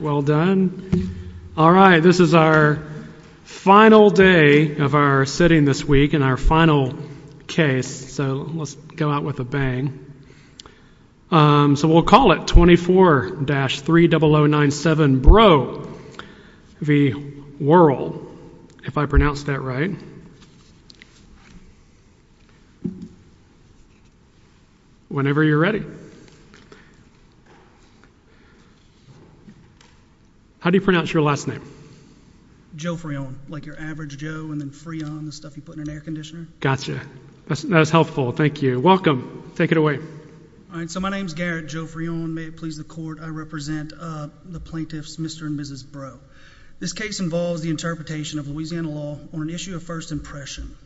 Well done. All right this is our final day of our sitting this week and our final case so let's go out with a bang. So we'll call it 24-30097 Breaux v. Worrell, if I pronounced that right. Whenever you're ready. How do you pronounce your last name? Joe Freon, like your average Joe and then Freon, the stuff you put in an air conditioner. Gotcha. That's helpful. Thank you. Welcome. Take it away. All right so my name is Garrett Joe Freon. May it please the court. I represent the plaintiffs Mr. and Mrs. Breaux. This case involves the interpretation of Louisiana law on an issue of first impression.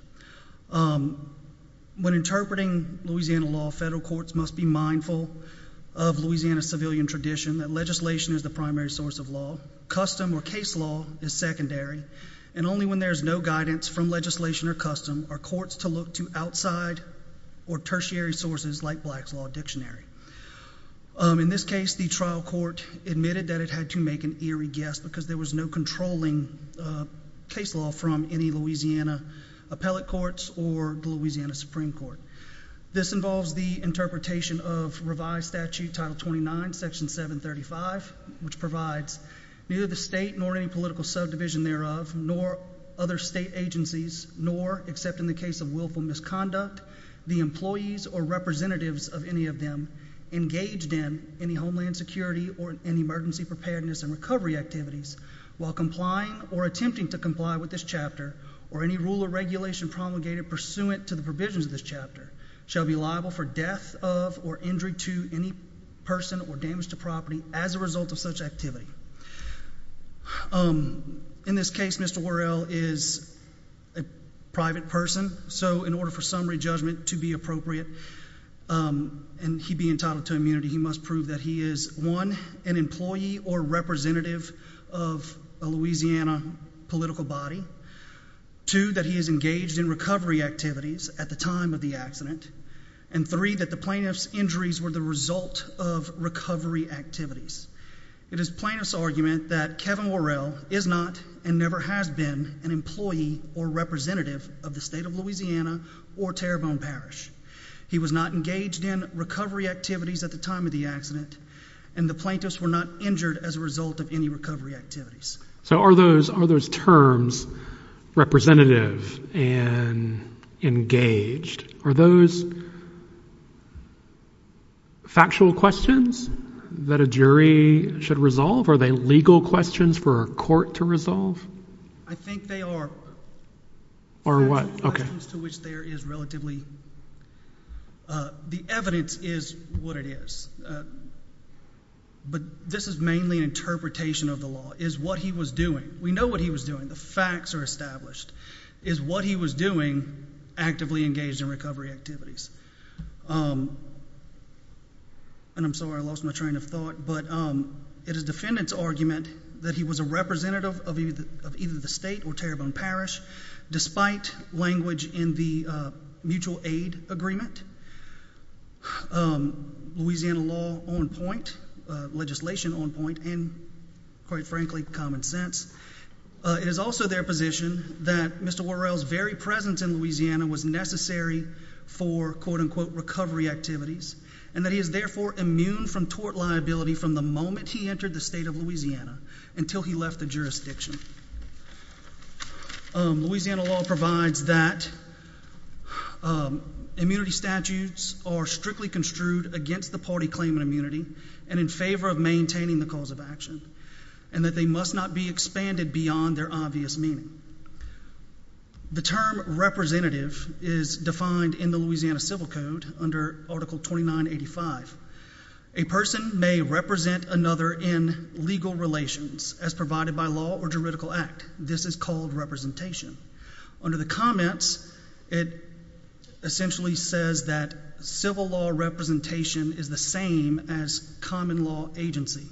When interpreting Louisiana law, federal courts must be mindful of Louisiana's civilian tradition that legislation is the primary source of law. Custom or case law is secondary and only when there's no guidance from legislation or custom are courts to look to outside or tertiary sources like Black's Law Dictionary. In this case the trial court admitted that it had to make an eerie guess because there was no controlling case law from any Louisiana appellate courts or the Louisiana Supreme Court. This involves the interpretation of revised statute title 29 section 735 which provides neither the state nor any political subdivision thereof nor other state agencies nor except in the case of misconduct the employees or representatives of any of them engaged in any homeland security or any emergency preparedness and recovery activities while complying or attempting to comply with this chapter or any rule or regulation promulgated pursuant to the provisions of this chapter shall be liable for death of or injury to any person or damage to property as a result of such activity. In this case Mr. Worrell is a private person so in order for summary judgment to be appropriate and he be entitled to immunity he must prove that he is one an employee or representative of a Louisiana political body, two that he is engaged in recovery activities at the time of the accident and three that the plaintiff's injuries were the result of recovery activities. It is plaintiff's argument that Kevin Worrell is not and never has been an employee or representative of the state of Louisiana or Terrebonne Parish. He was not engaged in recovery activities at the time of the accident and the plaintiffs were not injured as a result of any recovery activities. So are those are those terms representative and engaged are those factual questions that a jury should resolve? Are they legal questions for a court to resolve? I think they are. Or what? The evidence is what it is but this is mainly interpretation of the law is what he was doing. We know what he was doing. The facts are established. Is what he was doing actively engaged in recovery activities. And I'm sorry I lost my train of thought but it is defendant's argument that he was a representative of either the state or Terrebonne Parish despite language in the mutual aid agreement. Louisiana law on point legislation on point and quite frankly common sense. It is also their position that Mr. Worrell's very presence in Louisiana was necessary for quote-unquote recovery activities and that he is therefore immune from tort liability from the moment he entered the state of Louisiana until he left the jurisdiction. Louisiana law provides that immunity statutes are strictly construed against the party claim of immunity and in favor of maintaining the rules of action and that they must not be expanded beyond their obvious meaning. The term representative is defined in the Louisiana civil code under article 2985. A person may represent another in legal relations as provided by law or juridical act. This is called representation. Under the comments it essentially says that civil law representation is the same as common law agency.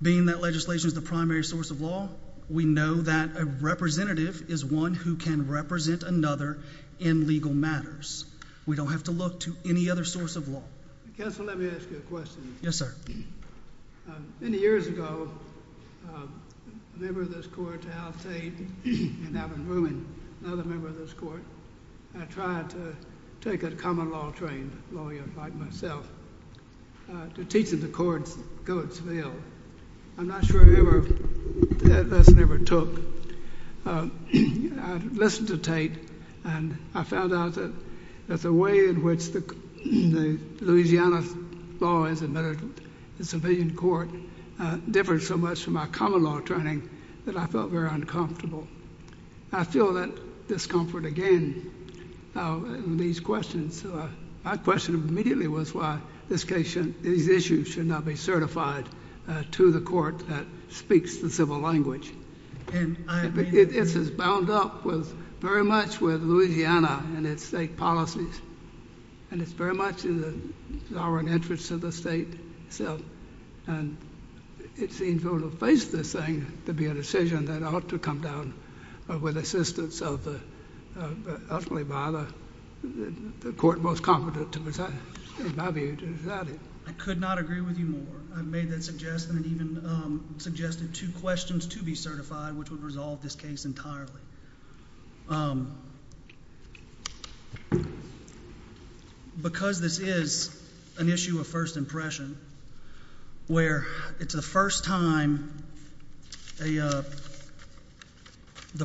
Being that legislation is the primary source of law we know that a representative is one who can represent another in legal matters. We don't have to look to any other source of law. Counselor, let me ask you a question. Yes sir. Many years ago a member of this court, Al Tate and Alvin Rumin, another member of this court, had tried to take a common law trained lawyer like myself to teach in the courts in Coatesville. I'm not sure that lesson ever took. I listened to Tate and I found out that the way in which the Louisiana law is admitted in civilian court differed so much from my common law training that I felt very uncomfortable. I feel that discomfort again in these questions. My question immediately was why this case, these issues, should not be certified to the court that speaks the civil language. It is bound up with very much with Louisiana and its state policies and it's very much in the sovereign interest of the state. It seems we're going to face this thing to be a decision that ought to come down with assistance ultimately by the court most confident in my view to decide it. I could not agree with you more. I've made that suggestion and even suggested two questions to be certified which would resolve this case entirely. Because this is an issue of first impression where it's the first time the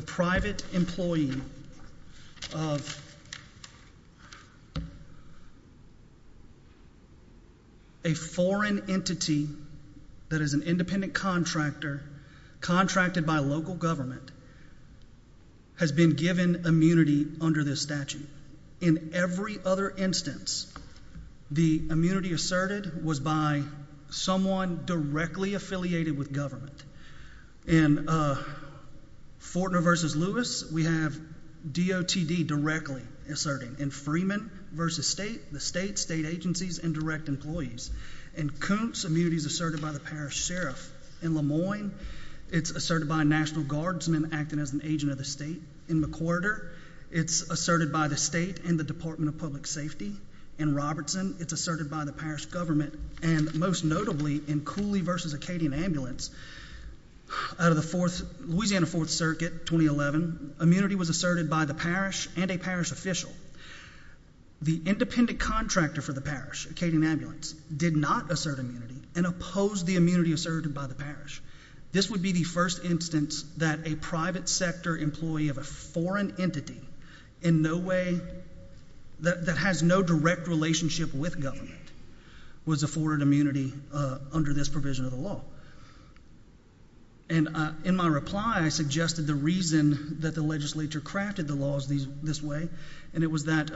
private employee of a foreign entity that is an independent contractor contracted by local government has been given immunity under this statute. In every other instance, the immunity asserted was by someone directly affiliated with government. In Fortner v. Lewis, we have DOTD directly asserting. In Freeman v. State, the state, state agencies and direct employees. In Coontz, immunity is asserted by the parish sheriff. In Lemoyne, it's asserted by a National Guardsman acting as an agent of the state. In McWhirter, it's asserted by the state and the Department of Public Safety. In Robertson, it's asserted by the parish government. And most notably, in Cooley v. Acadian Ambulance, out of the Louisiana Fourth Circuit, 2011, immunity was asserted by the parish and a parish official. The independent contractor for the parish, Acadian Ambulance, did not assert immunity and opposed the immunity asserted by the parish. This would be the first instance that a private sector employee of a foreign entity in no way, that has no direct relationship with government, was afforded immunity under this provision of the law. And in my reply, I suggested the reason that the legislature crafted the laws this way, and it was that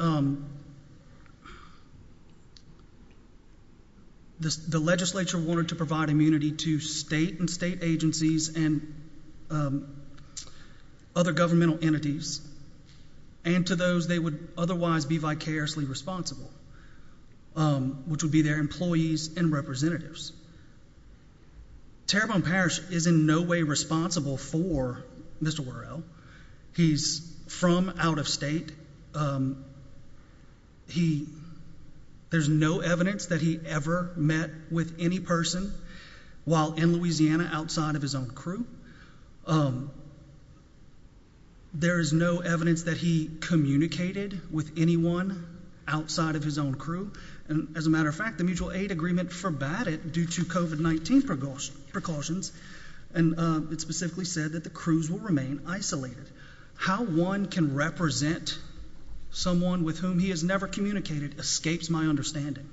the legislature wanted to provide immunity to state and state agencies and other governmental entities and to those they would otherwise be vicariously responsible, which would be their employees and representatives. Terrebonne Parish is in no way responsible for Mr. Whirrell. He's from out of state. He, there's no evidence that he ever met with any person while in Louisiana outside of his own crew. There is no evidence that he communicated with anyone outside of his own crew. And as a matter of fact, the mutual aid agreement forbade it due to COVID-19 precautions. And it specifically said that the crews will remain isolated. How one can represent someone with whom he has never communicated escapes my understanding.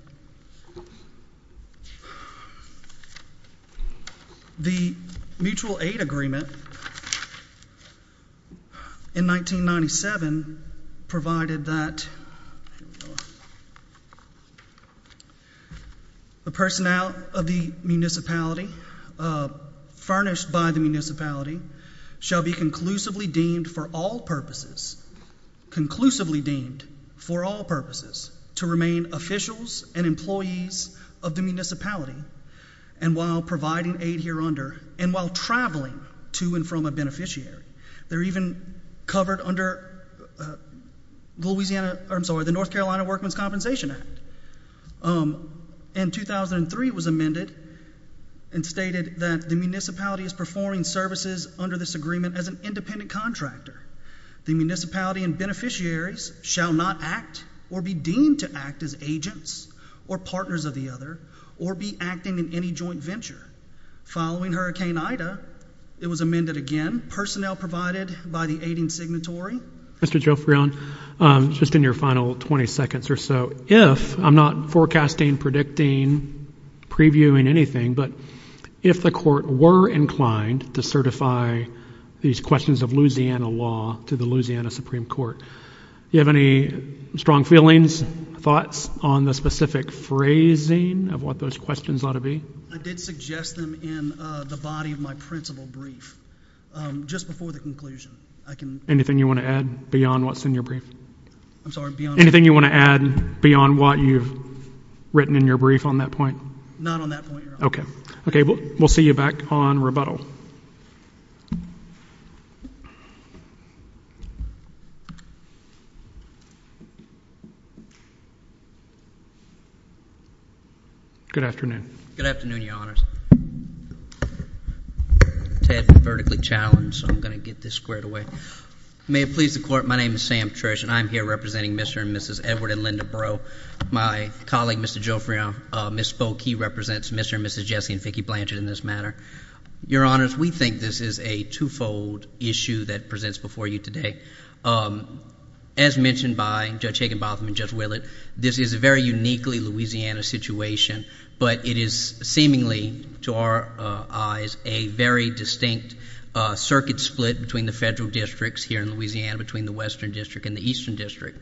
The mutual aid agreement in 1997 provided that the personnel of the municipality, furnished by the municipality, shall be conclusively deemed for all purposes, conclusively deemed for all purposes, to remain officials of the municipality. Officials and employees of the municipality, and while providing aid here under, and while traveling to and from a beneficiary. They're even covered under Louisiana, I'm sorry, the North Carolina Workman's Compensation Act. And 2003 was amended and stated that the municipality is performing services under this agreement as an independent contractor. The municipality and beneficiaries shall not act or be deemed to act as agents or partners of the other, or be acting in any joint venture. Following Hurricane Ida, it was amended again. Personnel provided by the aiding signatory. Mr. Jofreon, just in your final 20 seconds or so, if, I'm not forecasting, predicting, previewing anything, but if the court were inclined to certify these questions of Louisiana law to the Louisiana Supreme Court, do you have any strong feelings, thoughts on the specific phrasing of what those questions ought to be? I did suggest them in the body of my principal brief, just before the conclusion. Anything you want to add beyond what's in your brief? I'm sorry, beyond what? Anything you want to add beyond what you've written in your brief on that point? Not on that point, Your Honor. Okay, we'll see you back on rebuttal. Good afternoon. Good afternoon, Your Honors. Ted, I'm vertically challenged, so I'm going to get this squared away. May it please the Court, my name is Sam Trish, and I'm here representing Mr. and Mrs. Edward and Linda Breaux. My colleague, Mr. Jofreon, misspoke. He represents Mr. and Mrs. Jesse and Vicki Blanchard in this matter. Your Honors, we think this is a twofold issue that presents before you today. As mentioned by Judge Hagenbotham and Judge Willett, this is a very uniquely Louisiana situation, but it is seemingly, to our eyes, a very distinct circuit split between the federal districts here in Louisiana, between the Western District and the Eastern District.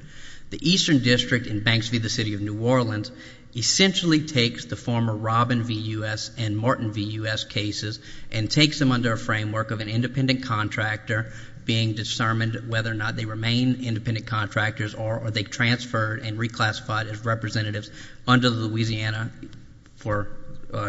The Eastern District in Banks v. the City of New Orleans essentially takes the former Robin v. U.S. and Martin v. U.S. cases and takes them under a framework of an independent contractor being discerned whether or not they remain independent contractors or are they transferred and reclassified as representatives under Louisiana for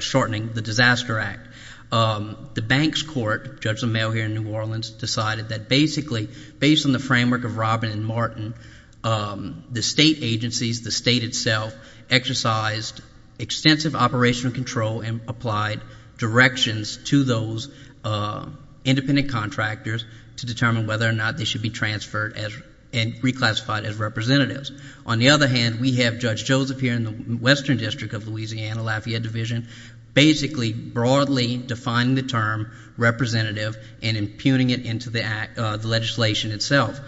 shortening the Disaster Act. The Banks Court, judge of the mail here in New Orleans, decided that basically, based on the framework of Robin and Martin, the state agencies, the state itself, exercised extensive operational control and applied directions to those independent contractors to determine whether or not they should be transferred and reclassified as representatives. On the other hand, we have Judge Joseph here in the Western District of Louisiana, Lafayette Division, basically broadly defining the term representative and impugning it into the legislation itself.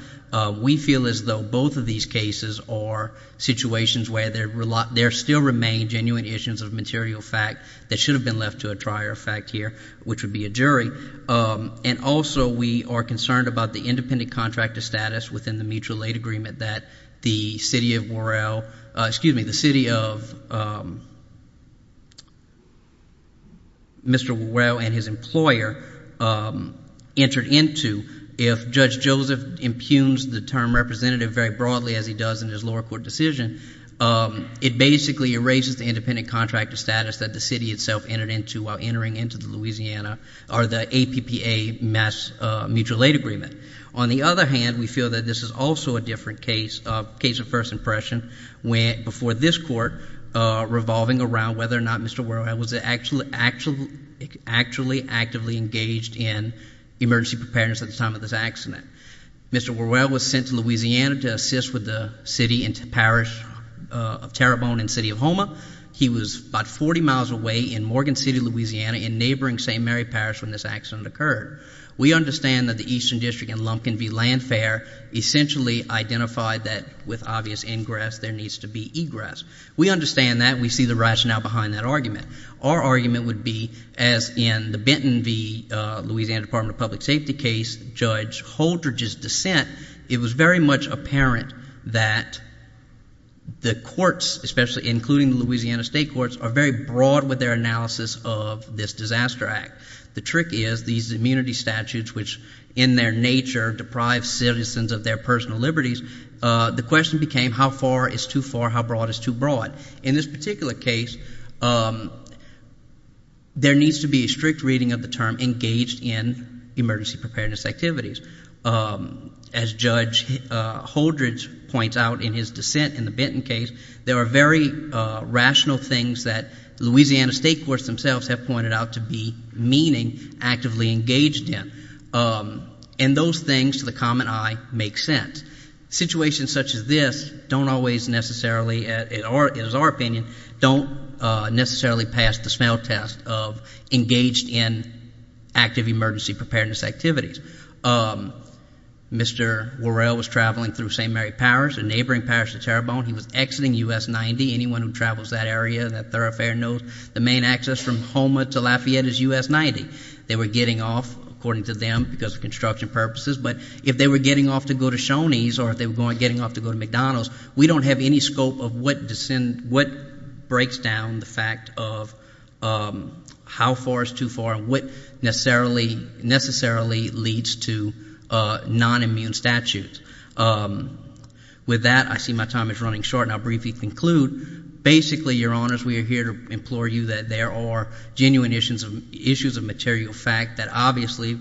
We feel as though both of these cases are situations where there still remain genuine issues of material fact that should have been left to a trier of fact here, which would be a jury. And also we are concerned about the independent contractor status within the mutual aid agreement that the city of Worrell, excuse me, the city of Mr. Worrell and his employer entered into. If Judge Joseph impugns the term representative very broadly, as he does in his lower court decision, it basically erases the independent contractor status that the city itself entered into while entering into the APPA Mass Mutual Aid Agreement. On the other hand, we feel that this is also a different case, a case of first impression, before this court revolving around whether or not Mr. Worrell was actually actively engaged in emergency preparedness at the time of this accident. Mr. Worrell was sent to Louisiana to assist with the city and parish of Terrebonne in the city of Houma. He was about 40 miles away in Morgan City, Louisiana, in neighboring St. Mary Parish when this accident occurred. We understand that the eastern district in Lumpkin v. Landfair essentially identified that with obvious ingress there needs to be egress. We understand that. We see the rationale behind that argument. Our argument would be, as in the Benton v. Louisiana Department of Public Safety case, Judge Holdridge's dissent, it was very much apparent that the courts, especially including the Louisiana state courts, are very broad with their analysis of this disaster act. The trick is these immunity statutes, which in their nature deprive citizens of their personal liberties, the question became how far is too far, how broad is too broad. In this particular case, there needs to be a strict reading of the term engaged in emergency preparedness activities. As Judge Holdridge points out in his dissent in the Benton case, there are very rational things that the Louisiana state courts themselves have pointed out to be meaning actively engaged in. And those things, to the common eye, make sense. Situations such as this don't always necessarily, in our opinion, don't necessarily pass the smell test of engaged in active emergency preparedness activities. Mr. Worrell was traveling through St. Mary Parish and neighboring Parish of Terrebonne. He was exiting U.S. 90. Anyone who travels that area, that thoroughfare knows the main access from Houma to Lafayette is U.S. 90. They were getting off, according to them, because of construction purposes. But if they were getting off to go to Shoney's or if they were getting off to go to McDonald's, we don't have any scope of what breaks down the fact of how far is too far and what necessarily leads to nonimmune statutes. With that, I see my time is running short, and I'll briefly conclude. Basically, Your Honors, we are here to implore you that there are genuine issues of material fact that, obviously,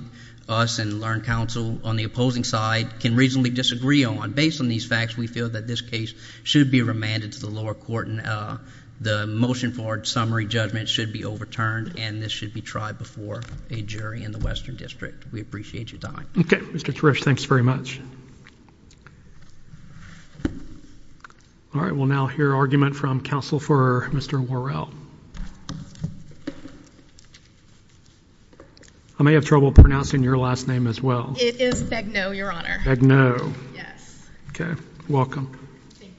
us and learned counsel on the opposing side can reasonably disagree on. Based on these facts, we feel that this case should be remanded to the lower court, and the motion for summary judgment should be overturned, and this should be tried before a jury in the Western District. We appreciate your time. Okay, Mr. Kirish, thanks very much. All right, we'll now hear argument from counsel for Mr. Worrell. I may have trouble pronouncing your last name as well. It is Begnaud, Your Honor. Begnaud. Yes. Okay, welcome. Thank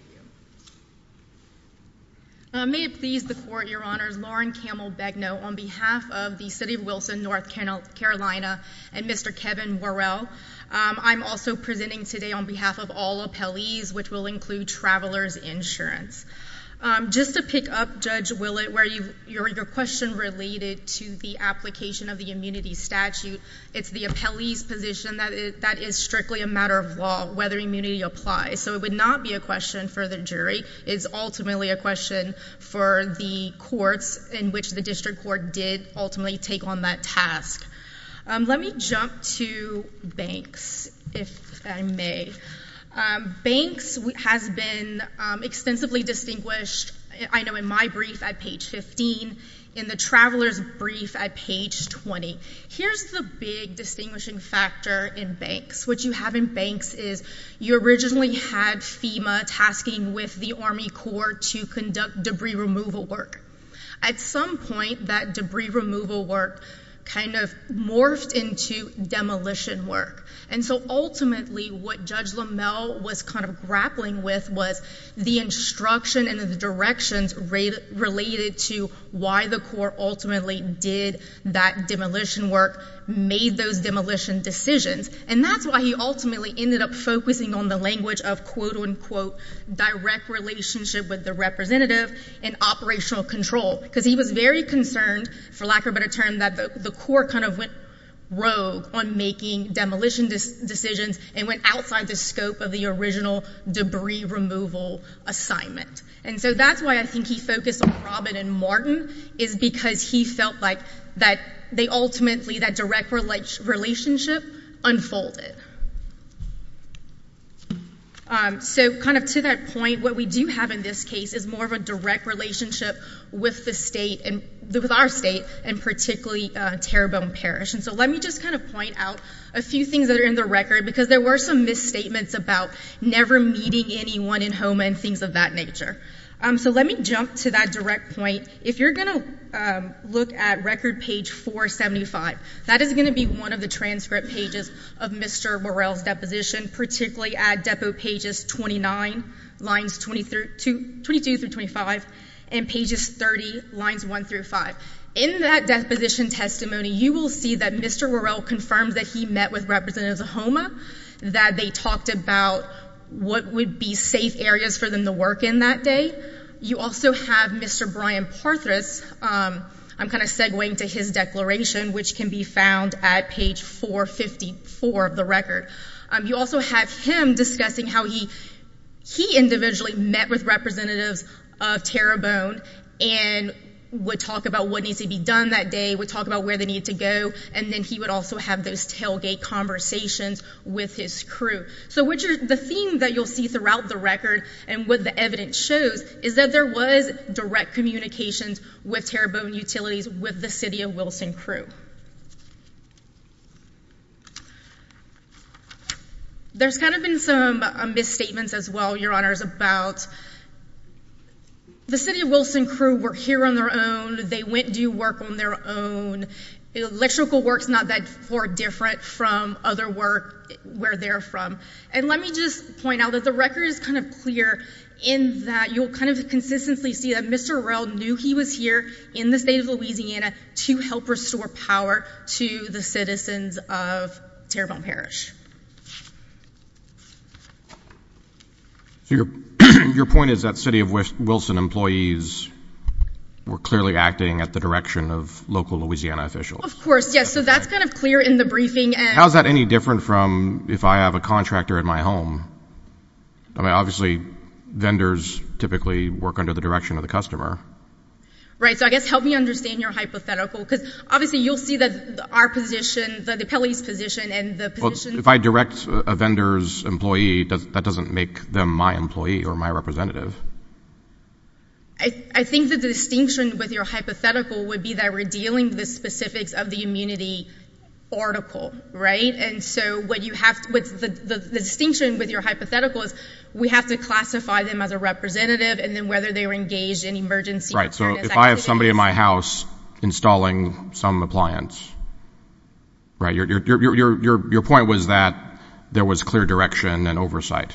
you. May it please the Court, Your Honors, on behalf of the City of Wilson, North Carolina, and Mr. Kevin Worrell. I'm also presenting today on behalf of all appellees, which will include traveler's insurance. Just to pick up, Judge Willett, where your question related to the application of the immunity statute, it's the appellee's position that that is strictly a matter of law, whether immunity applies. So it would not be a question for the jury. It is ultimately a question for the courts in which the district court did ultimately take on that task. Let me jump to banks, if I may. Banks has been extensively distinguished, I know, in my brief at page 15, in the traveler's brief at page 20. Here's the big distinguishing factor in banks. What you have in banks is you originally had FEMA tasking with the Army Corps to conduct debris removal work. At some point, that debris removal work kind of morphed into demolition work. And so, ultimately, what Judge LaMelle was kind of grappling with was the instruction and the directions related to why the Corps ultimately did that demolition work, made those demolition decisions. And that's why he ultimately ended up focusing on the language of, quote-unquote, direct relationship with the representative and operational control, because he was very concerned, for lack of a better term, that the Corps kind of went rogue on making demolition decisions and went outside the scope of the original debris removal assignment. And so that's why I think he focused on Robin and Martin, is because he felt like they ultimately, that direct relationship unfolded. So kind of to that point, what we do have in this case is more of a direct relationship with the state, with our state, and particularly Terrebonne Parish. And so let me just kind of point out a few things that are in the record, because there were some misstatements about never meeting anyone in HOMA and things of that nature. So let me jump to that direct point. If you're going to look at record page 475, that is going to be one of the transcript pages of Mr. Worrell's deposition, particularly at depot pages 22 through 25 and pages 30, lines 1 through 5. In that deposition testimony, you will see that Mr. Worrell confirmed that he met with representatives of HOMA, that they talked about what would be safe areas for them to work in that day. You also have Mr. Brian Parthas. I'm kind of segwaying to his declaration, which can be found at page 454 of the record. You also have him discussing how he individually met with representatives of Terrebonne and would talk about what needs to be done that day, would talk about where they needed to go, and then he would also have those tailgate conversations with his crew. So the theme that you'll see throughout the record and what the evidence shows is that there was direct communications with Terrebonne utilities with the City of Wilson crew. There's kind of been some misstatements as well, Your Honors, about the City of Wilson crew were here on their own, so they went to do work on their own. Electrical work's not that far different from other work where they're from. And let me just point out that the record is kind of clear in that you'll kind of consistently see that Mr. Worrell knew he was here in the state of Louisiana to help restore power to the citizens of Terrebonne Parish. Your point is that City of Wilson employees were clearly acting at the direction of local Louisiana officials. Of course, yes. So that's kind of clear in the briefing. How is that any different from if I have a contractor in my home? I mean, obviously, vendors typically work under the direction of the customer. Right. So I guess help me understand your hypothetical, because obviously you'll see that our position, Well, if I direct a vendor's employee, that doesn't make them my employee or my representative. I think the distinction with your hypothetical would be that we're dealing with specifics of the immunity article, right? And so the distinction with your hypothetical is we have to classify them as a representative and then whether they were engaged in emergency preparedness activities. Let's say I have somebody in my house installing some appliance. Your point was that there was clear direction and oversight.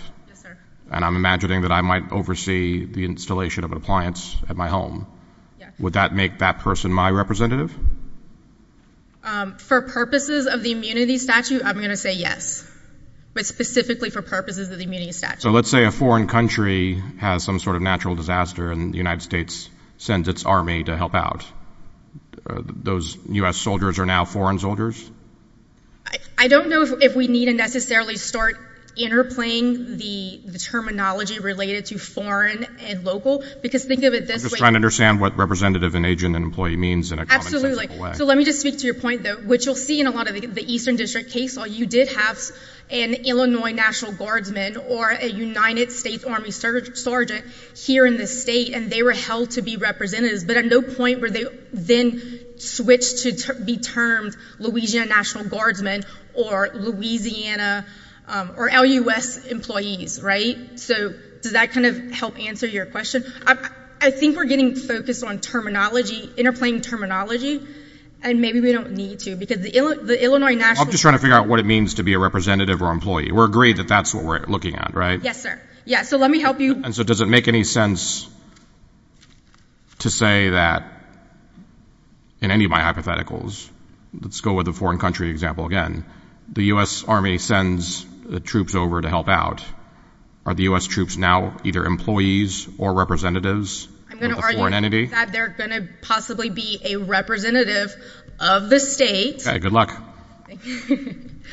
And I'm imagining that I might oversee the installation of an appliance at my home. Would that make that person my representative? For purposes of the immunity statute, I'm going to say yes, but specifically for purposes of the immunity statute. So let's say a foreign country has some sort of natural disaster and the United States sends its army to help out. Those U.S. soldiers are now foreign soldiers? I don't know if we need to necessarily start interplaying the terminology related to foreign and local, because think of it this way. I'm just trying to understand what representative and agent and employee means in a common sense way. So let me just speak to your point, which you'll see in a lot of the Eastern District case. You did have an Illinois National Guardsman or a United States Army Sergeant here in the state, and they were held to be representatives, but at no point were they then switched to be termed Louisiana National Guardsmen or Louisiana or L.U.S. employees, right? So does that kind of help answer your question? I think we're getting focused on terminology, interplaying terminology, and maybe we don't need to. I'm just trying to figure out what it means to be a representative or employee. We're agreed that that's what we're looking at, right? Yes, sir. Yeah, so let me help you. And so does it make any sense to say that in any of my hypotheticals, let's go with the foreign country example again, the U.S. Army sends the troops over to help out. Are the U.S. troops now either employees or representatives of a foreign entity? That they're going to possibly be a representative of the state. Okay. Good luck.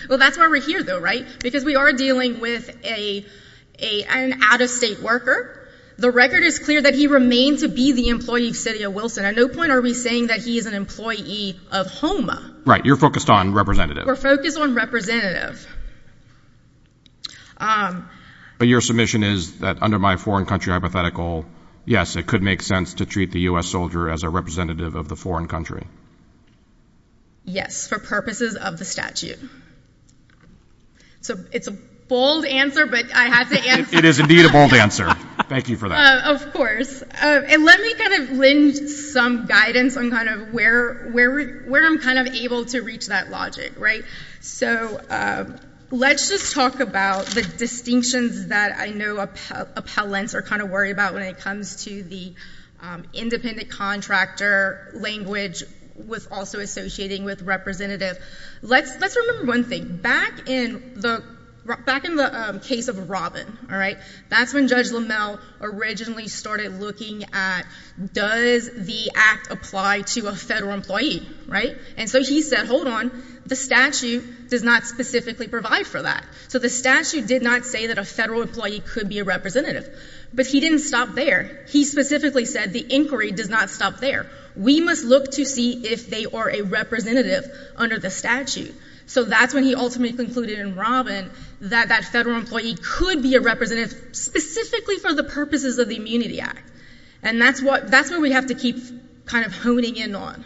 Well, that's why we're here, though, right? Because we are dealing with an out-of-state worker. The record is clear that he remains to be the employee of City of Wilson. At no point are we saying that he is an employee of HOMA. Right. You're focused on representative. We're focused on representative. But your submission is that under my foreign country hypothetical, yes, it could make sense to treat the U.S. soldier as a representative of the foreign country. Yes, for purposes of the statute. So it's a bold answer, but I have to answer it. It is indeed a bold answer. Thank you for that. Of course. And let me kind of lend some guidance on kind of where I'm kind of able to reach that logic, right? So let's just talk about the distinctions that I know appellants are kind of worried about when it comes to the independent contractor language with also associating with representative. Let's remember one thing. Back in the case of Robin, all right, that's when Judge LaMelle originally started looking at, does the act apply to a federal employee? Right. And so he said, hold on, the statute does not specifically provide for that. So the statute did not say that a federal employee could be a representative. But he didn't stop there. He specifically said the inquiry does not stop there. We must look to see if they are a representative under the statute. So that's when he ultimately concluded in Robin that that federal employee could be a representative specifically for the purposes of the Immunity Act. And that's what we have to keep kind of honing in on.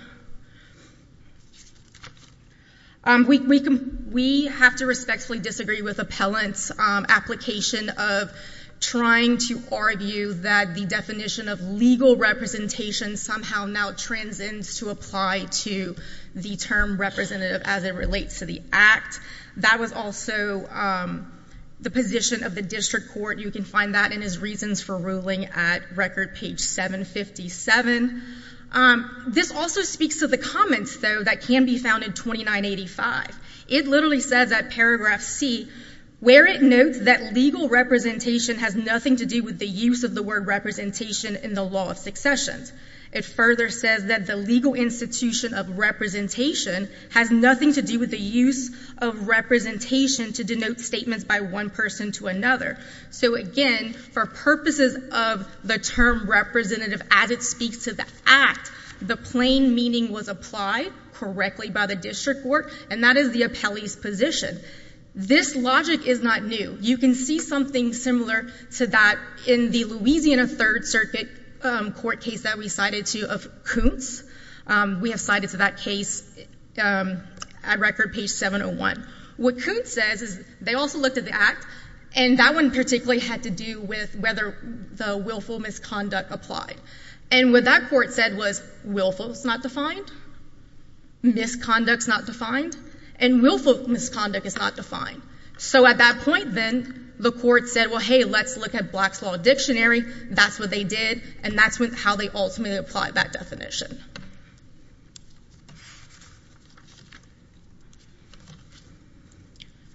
We have to respectfully disagree with appellants' application of trying to argue that the definition of legal representation somehow now transcends to apply to the term representative as it relates to the act. That was also the position of the district court. You can find that in his reasons for ruling at record page 757. This also speaks to the comments, though, that can be found in 2985. It literally says at paragraph C where it notes that legal representation has nothing to do with the use of the word representation in the law of successions. It further says that the legal institution of representation has nothing to do with the use of representation to denote statements by one person to another. So, again, for purposes of the term representative as it speaks to the act, the plain meaning was applied correctly by the district court, and that is the appellee's position. This logic is not new. You can see something similar to that in the Louisiana Third Circuit court case that we cited to of Koontz. We have cited to that case at record page 701. What Koontz says is they also looked at the act, and that one particularly had to do with whether the willful misconduct applied. And what that court said was willful is not defined, misconduct is not defined, and willful misconduct is not defined. So at that point, then, the court said, well, hey, let's look at Black's Law Dictionary. That's what they did, and that's how they ultimately applied that definition.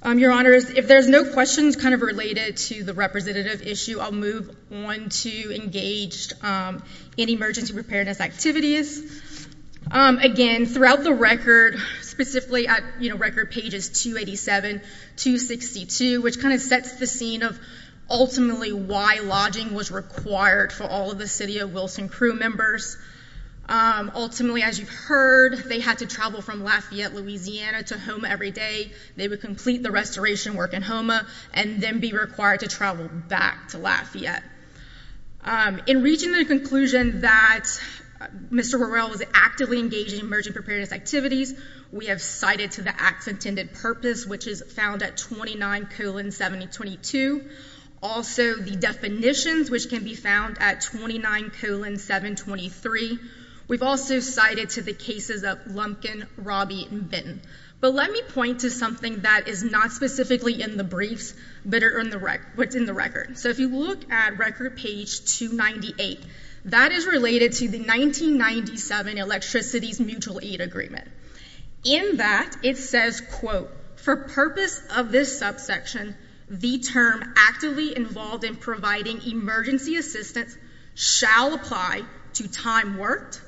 Your Honors, if there's no questions kind of related to the representative issue, I'll move on to engaged in emergency preparedness activities. Again, throughout the record, specifically at record pages 287, 262, which kind of sets the scene of ultimately why lodging was required for all of the city of Wilson crew members. Ultimately, as you've heard, they had to travel from Lafayette, Louisiana, to Houma every day. They would complete the restoration work in Houma and then be required to travel back to Lafayette. In reaching the conclusion that Mr. Morrell was actively engaged in emergency preparedness activities, we have cited to the acts intended purpose, which is found at 29 colon 7022. Also, the definitions, which can be found at 29 colon 723. We've also cited to the cases of Lumpkin, Robby, and Benton. But let me point to something that is not specifically in the briefs, but in the record. So if you look at record page 298, that is related to the 1997 Electricity Mutual Aid Agreement. In that, it says, quote, for purpose of this subsection, the term actively involved in providing emergency assistance shall apply to time worked,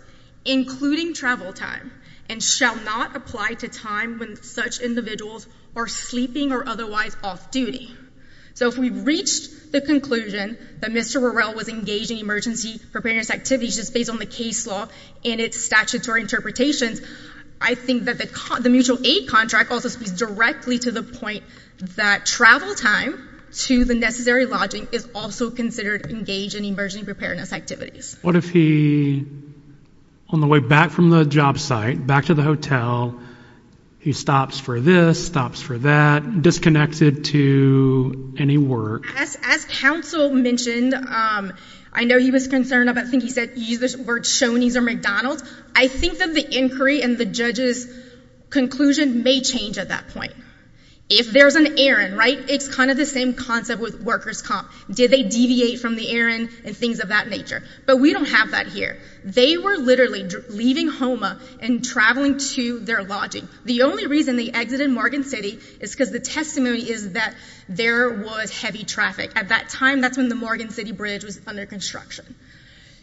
including travel time, and shall not apply to time when such individuals are sleeping or otherwise off duty. So if we reached the conclusion that Mr. Morrell was engaged in emergency preparedness activities just based on the case law and its statutory interpretations, I think that the mutual aid contract also speaks directly to the point that travel time to the necessary lodging is also considered engaged in emergency preparedness activities. What if he, on the way back from the job site, back to the hotel, he stops for this, stops for that, and is not disconnected to any work? As counsel mentioned, I know he was concerned about, I think he said he used the word Shoney's or McDonald's. I think that the inquiry and the judge's conclusion may change at that point. If there's an errand, right, it's kind of the same concept with workers' comp. Did they deviate from the errand and things of that nature? But we don't have that here. They were literally leaving HOMA and traveling to their lodging. The only reason they exited Morgan City is because the testimony is that there was heavy traffic. At that time, that's when the Morgan City Bridge was under construction.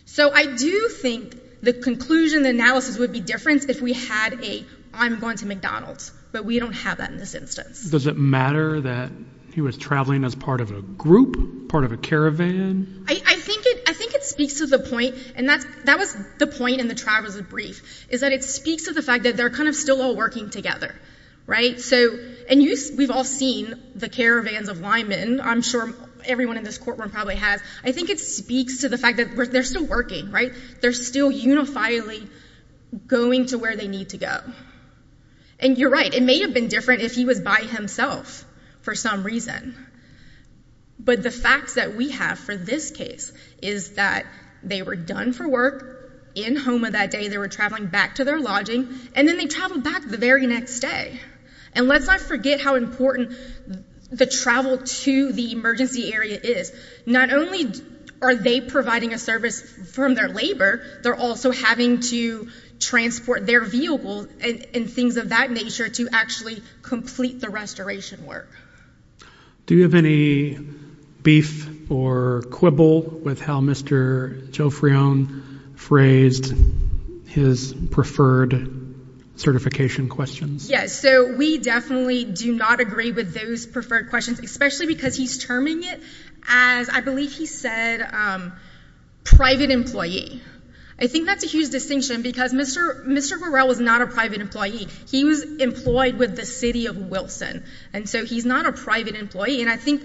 So I do think the conclusion, the analysis would be different if we had a, I'm going to McDonald's. But we don't have that in this instance. Does it matter that he was traveling as part of a group, part of a caravan? I think it speaks to the point, and that was the point in the travel brief, is that it speaks to the fact that they're kind of still all working together, right? And we've all seen the caravans of linemen. I'm sure everyone in this courtroom probably has. I think it speaks to the fact that they're still working, right? They're still unifiably going to where they need to go. And you're right. It may have been different if he was by himself for some reason. But the facts that we have for this case is that they were done for work in HOMA that day. They were traveling back to their lodging, and then they traveled back the very next day. And let's not forget how important the travel to the emergency area is. Not only are they providing a service from their labor, they're also having to transport their vehicle and things of that nature to actually complete the restoration work. Do you have any beef or quibble with how Mr. Jofreon phrased his preferred certification questions? Yes. So we definitely do not agree with those preferred questions, especially because he's terming it as, I believe he said, private employee. I think that's a huge distinction because Mr. Vorel was not a private employee. He was employed with the city of Wilson. And so he's not a private employee. And I think,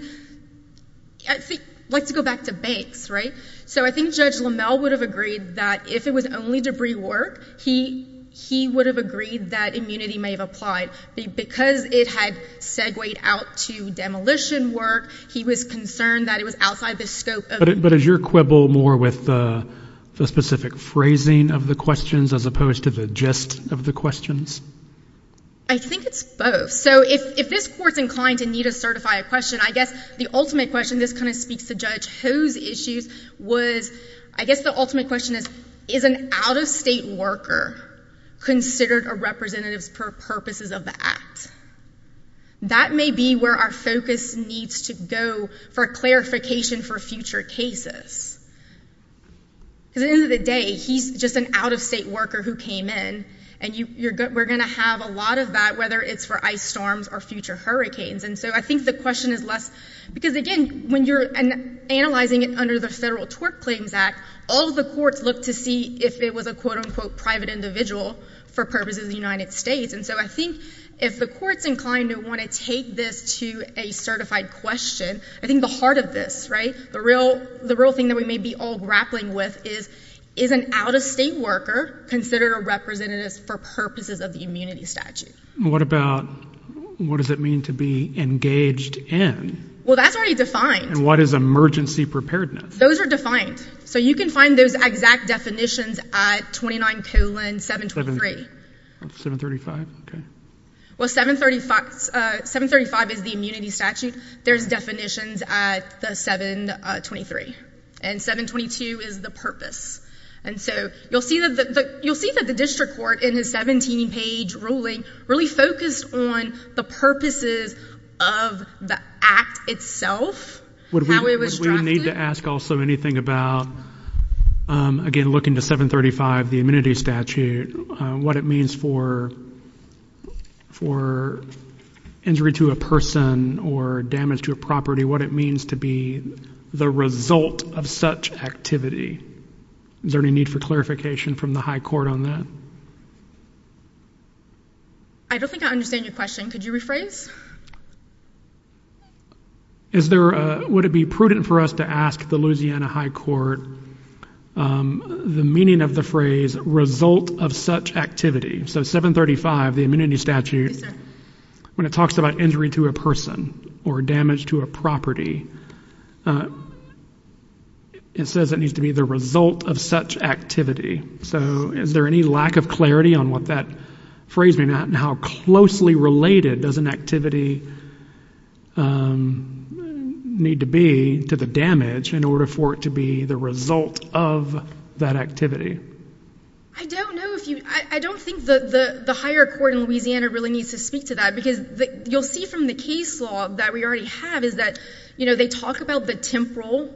let's go back to banks, right? So I think Judge Lamell would have agreed that if it was only debris work, he would have agreed that immunity may have applied. Because it had segued out to demolition work, he was concerned that it was outside the scope. But is your quibble more with the specific phrasing of the questions as opposed to the gist of the questions? I think it's both. So if this Court's inclined to need to certify a question, I guess the ultimate question, this kind of speaks to Judge Ho's issues, was, I guess the ultimate question is, is an out-of-state worker considered a representative for purposes of the Act? That may be where our focus needs to go for clarification for future cases. Because at the end of the day, he's just an out-of-state worker who came in, and we're going to have a lot of that, whether it's for ice storms or future hurricanes. And so I think the question is less, because, again, when you're analyzing it under the Federal Tort Claims Act, all the courts look to see if it was a, quote, unquote, private individual for purposes of the United States. And so I think if the Court's inclined to want to take this to a certified question, I think the heart of this, right, the real thing that we may be all grappling with is, is an out-of-state worker considered a representative for purposes of the immunity statute? What about what does it mean to be engaged in? Well, that's already defined. And what is emergency preparedness? Those are defined. So you can find those exact definitions at 29 colon 723. 735, okay. Well, 735 is the immunity statute. At 29, there's definitions at the 723. And 722 is the purpose. And so you'll see that the district court in his 17-page ruling really focused on the purposes of the act itself, how it was drafted. Would we need to ask also anything about, again, looking to 735, the immunity statute, what it means for injury to a person or damage to a property, what it means to be the result of such activity? Is there any need for clarification from the high court on that? I don't think I understand your question. Could you rephrase? Would it be prudent for us to ask the Louisiana high court the meaning of the phrase result of such activity? So 735, the immunity statute, when it talks about injury to a person or damage to a property, it says it needs to be the result of such activity. So is there any lack of clarity on what that phrase may mean and how closely related does an activity need to be to the damage in order for it to be the result of that activity? I don't know if you, I don't think the higher court in Louisiana really needs to speak to that because you'll see from the case law that we already have is that, you know, when they talk about the temporal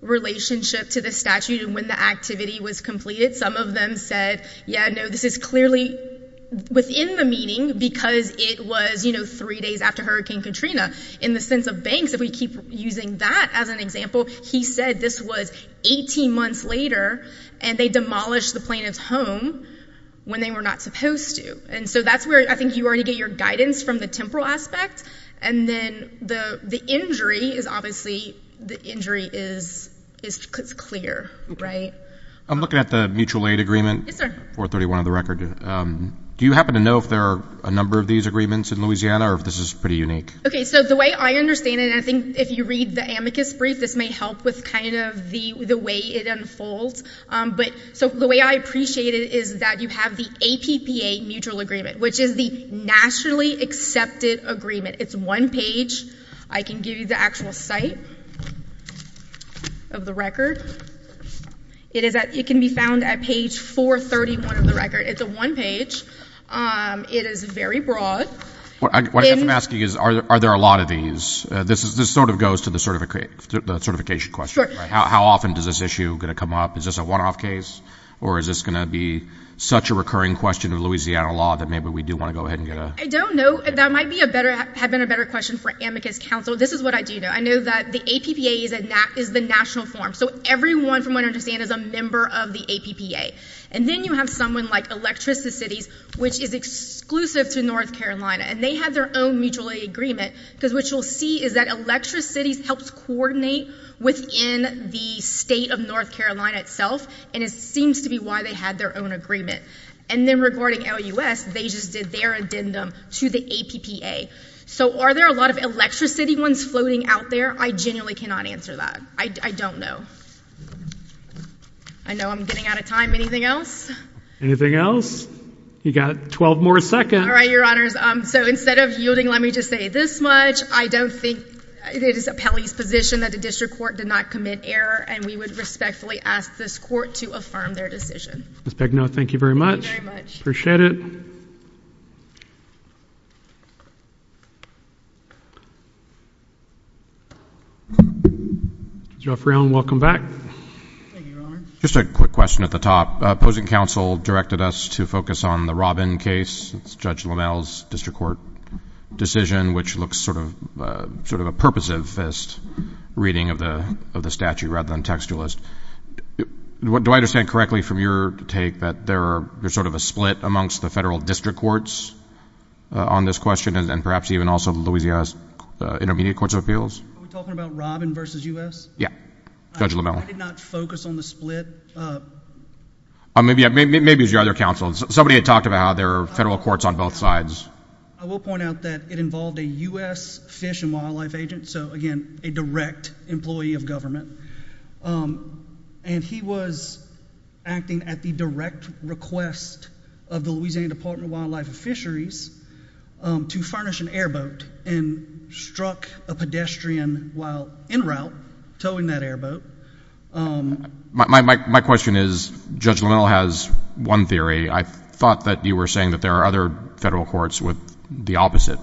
relationship to the statute and when the activity was completed, some of them said, yeah, no, this is clearly within the meaning because it was, you know, three days after Hurricane Katrina. In the sense of banks, if we keep using that as an example, he said this was 18 months later and they demolished the plaintiff's home when they were not supposed to. And so that's where I think you already get your guidance from the temporal aspect and then the injury is obviously, the injury is clear, right? I'm looking at the mutual aid agreement. Yes, sir. 431 of the record. Do you happen to know if there are a number of these agreements in Louisiana or if this is pretty unique? Okay, so the way I understand it, and I think if you read the amicus brief, this may help with kind of the way it unfolds. So the way I appreciate it is that you have the APPA mutual agreement, which is the nationally accepted agreement. It's one page. I can give you the actual site of the record. It can be found at page 431 of the record. It's a one page. It is very broad. What I'm asking is are there a lot of these? This sort of goes to the certification question, right? How often is this issue going to come up? Is this a one-off case or is this going to be such a recurring question of Louisiana law that maybe we do want to go ahead and get a… I don't know. That might have been a better question for amicus counsel. This is what I do know. I know that the APPA is the national form. So everyone, from what I understand, is a member of the APPA. And then you have someone like Electricity Cities, which is exclusive to North Carolina. And they have their own mutual agreement. Because what you'll see is that Electricity Cities helps coordinate within the state of North Carolina itself. And it seems to be why they had their own agreement. And then regarding LUS, they just did their addendum to the APPA. So are there a lot of Electricity ones floating out there? I genuinely cannot answer that. I don't know. I know I'm getting out of time. Anything else? Anything else? You've got 12 more seconds. All right, Your Honors. So instead of yielding, let me just say this much. I don't think it is appellee's position that the district court did not commit error. And we would respectfully ask this court to affirm their decision. Ms. Begnaud, thank you very much. Thank you very much. Appreciate it. Judge Rafferty, welcome back. Thank you, Your Honor. Just a quick question at the top. Opposing counsel directed us to focus on the Robbin case. It's Judge LaMelle's district court decision, which looks sort of a purposivist reading of the statute rather than textualist. Do I understand correctly from your take that there's sort of a split amongst the federal district courts on this question and perhaps even also the Louisiana Intermediate Courts of Appeals? Are we talking about Robbin versus U.S.? Yeah, Judge LaMelle. I did not focus on the split. Maybe it was your other counsel. Somebody had talked about how there are federal courts on both sides. I will point out that it involved a U.S. Fish and Wildlife agent, so, again, a direct employee of government. And he was acting at the direct request of the Louisiana Department of Wildlife and Fisheries to furnish an airboat and struck a pedestrian while en route towing that airboat. My question is, Judge LaMelle has one theory. I thought that you were saying that there are other federal courts with the opposite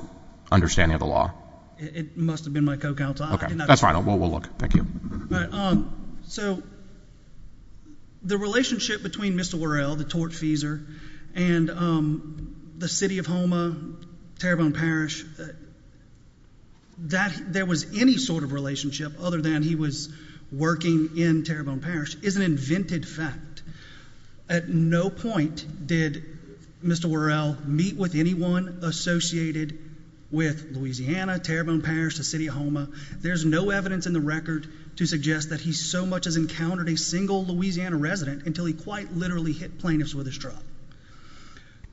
understanding of the law. It must have been my co-counsel. Okay. That's fine. We'll look. Thank you. So the relationship between Mr. Worrell, the tortfeasor, and the city of Houma, Terrebonne Parish, that there was any sort of relationship other than he was working in Terrebonne Parish is an invented fact. At no point did Mr. Worrell meet with anyone associated with Louisiana, Terrebonne Parish, the city of Houma. There's no evidence in the record to suggest that he so much as encountered a single Louisiana resident until he quite literally hit plaintiffs with his truck.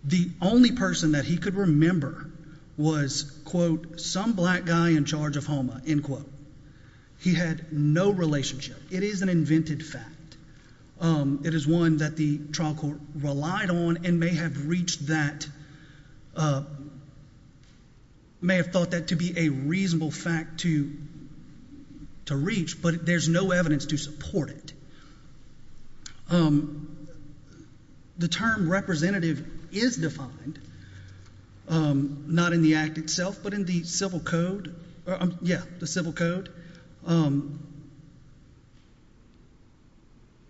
The only person that he could remember was, quote, some black guy in charge of Houma, end quote. He had no relationship. It is an invented fact. It is one that the trial court relied on and may have thought that to be a reasonable fact to reach, but there's no evidence to support it. The term representative is defined not in the act itself but in the civil code. Yeah, the civil code.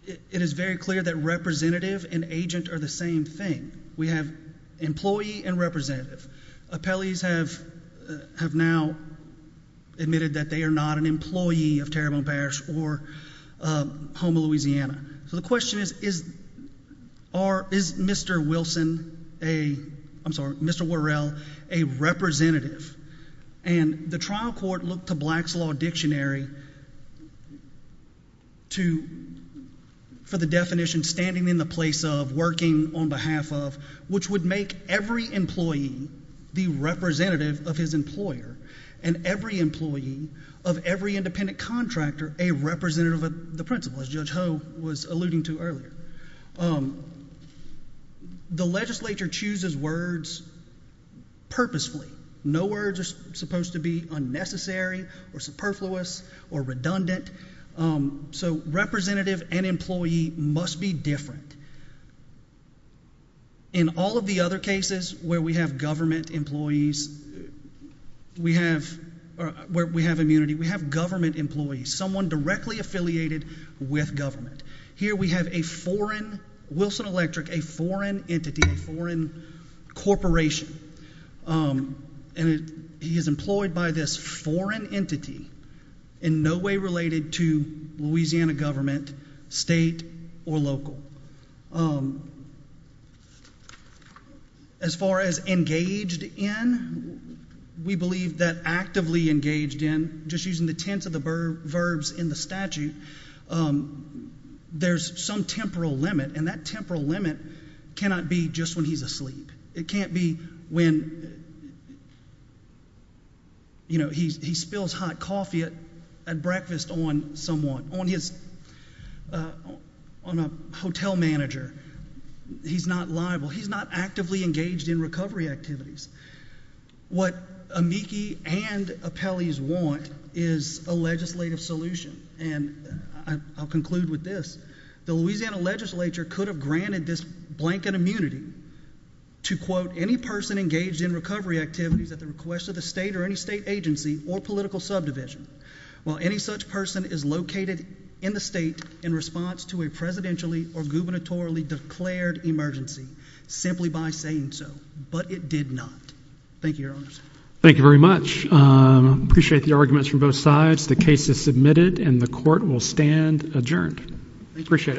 It is very clear that representative and agent are the same thing. We have employee and representative. Appellees have now admitted that they are not an employee of Terrebonne Parish or Houma, Louisiana. So the question is, is Mr. Wilson a—I'm sorry, Mr. Worrell a representative? And the trial court looked to Black's Law Dictionary to—for the definition standing in the place of, working on behalf of, which would make every employee the representative of his employer and every employee of every independent contractor a representative of the principal, as Judge Ho was alluding to earlier. The legislature chooses words purposefully. No words are supposed to be unnecessary or superfluous or redundant. So representative and employee must be different. In all of the other cases where we have government employees, where we have immunity, we have government employees, someone directly affiliated with government. Here we have a foreign—Wilson Electric, a foreign entity, a foreign corporation, and he is employed by this foreign entity in no way related to Louisiana government, state or local. As far as engaged in, we believe that actively engaged in, just using the tense of the verbs in the statute, there's some temporal limit, and that temporal limit cannot be just when he's asleep. It can't be when, you know, he spills hot coffee at breakfast on someone, on his—on a hotel manager. He's not liable. He's not actively engaged in recovery activities. What amici and appellees want is a legislative solution, and I'll conclude with this. The Louisiana legislature could have granted this blanket immunity to, quote, any person engaged in recovery activities at the request of the state or any state agency or political subdivision, while any such person is located in the state in response to a presidentially or gubernatorially declared emergency, simply by saying so, but it did not. Thank you, Your Honors. Thank you very much. Appreciate the arguments from both sides. The case is submitted, and the court will stand adjourned. Appreciate it.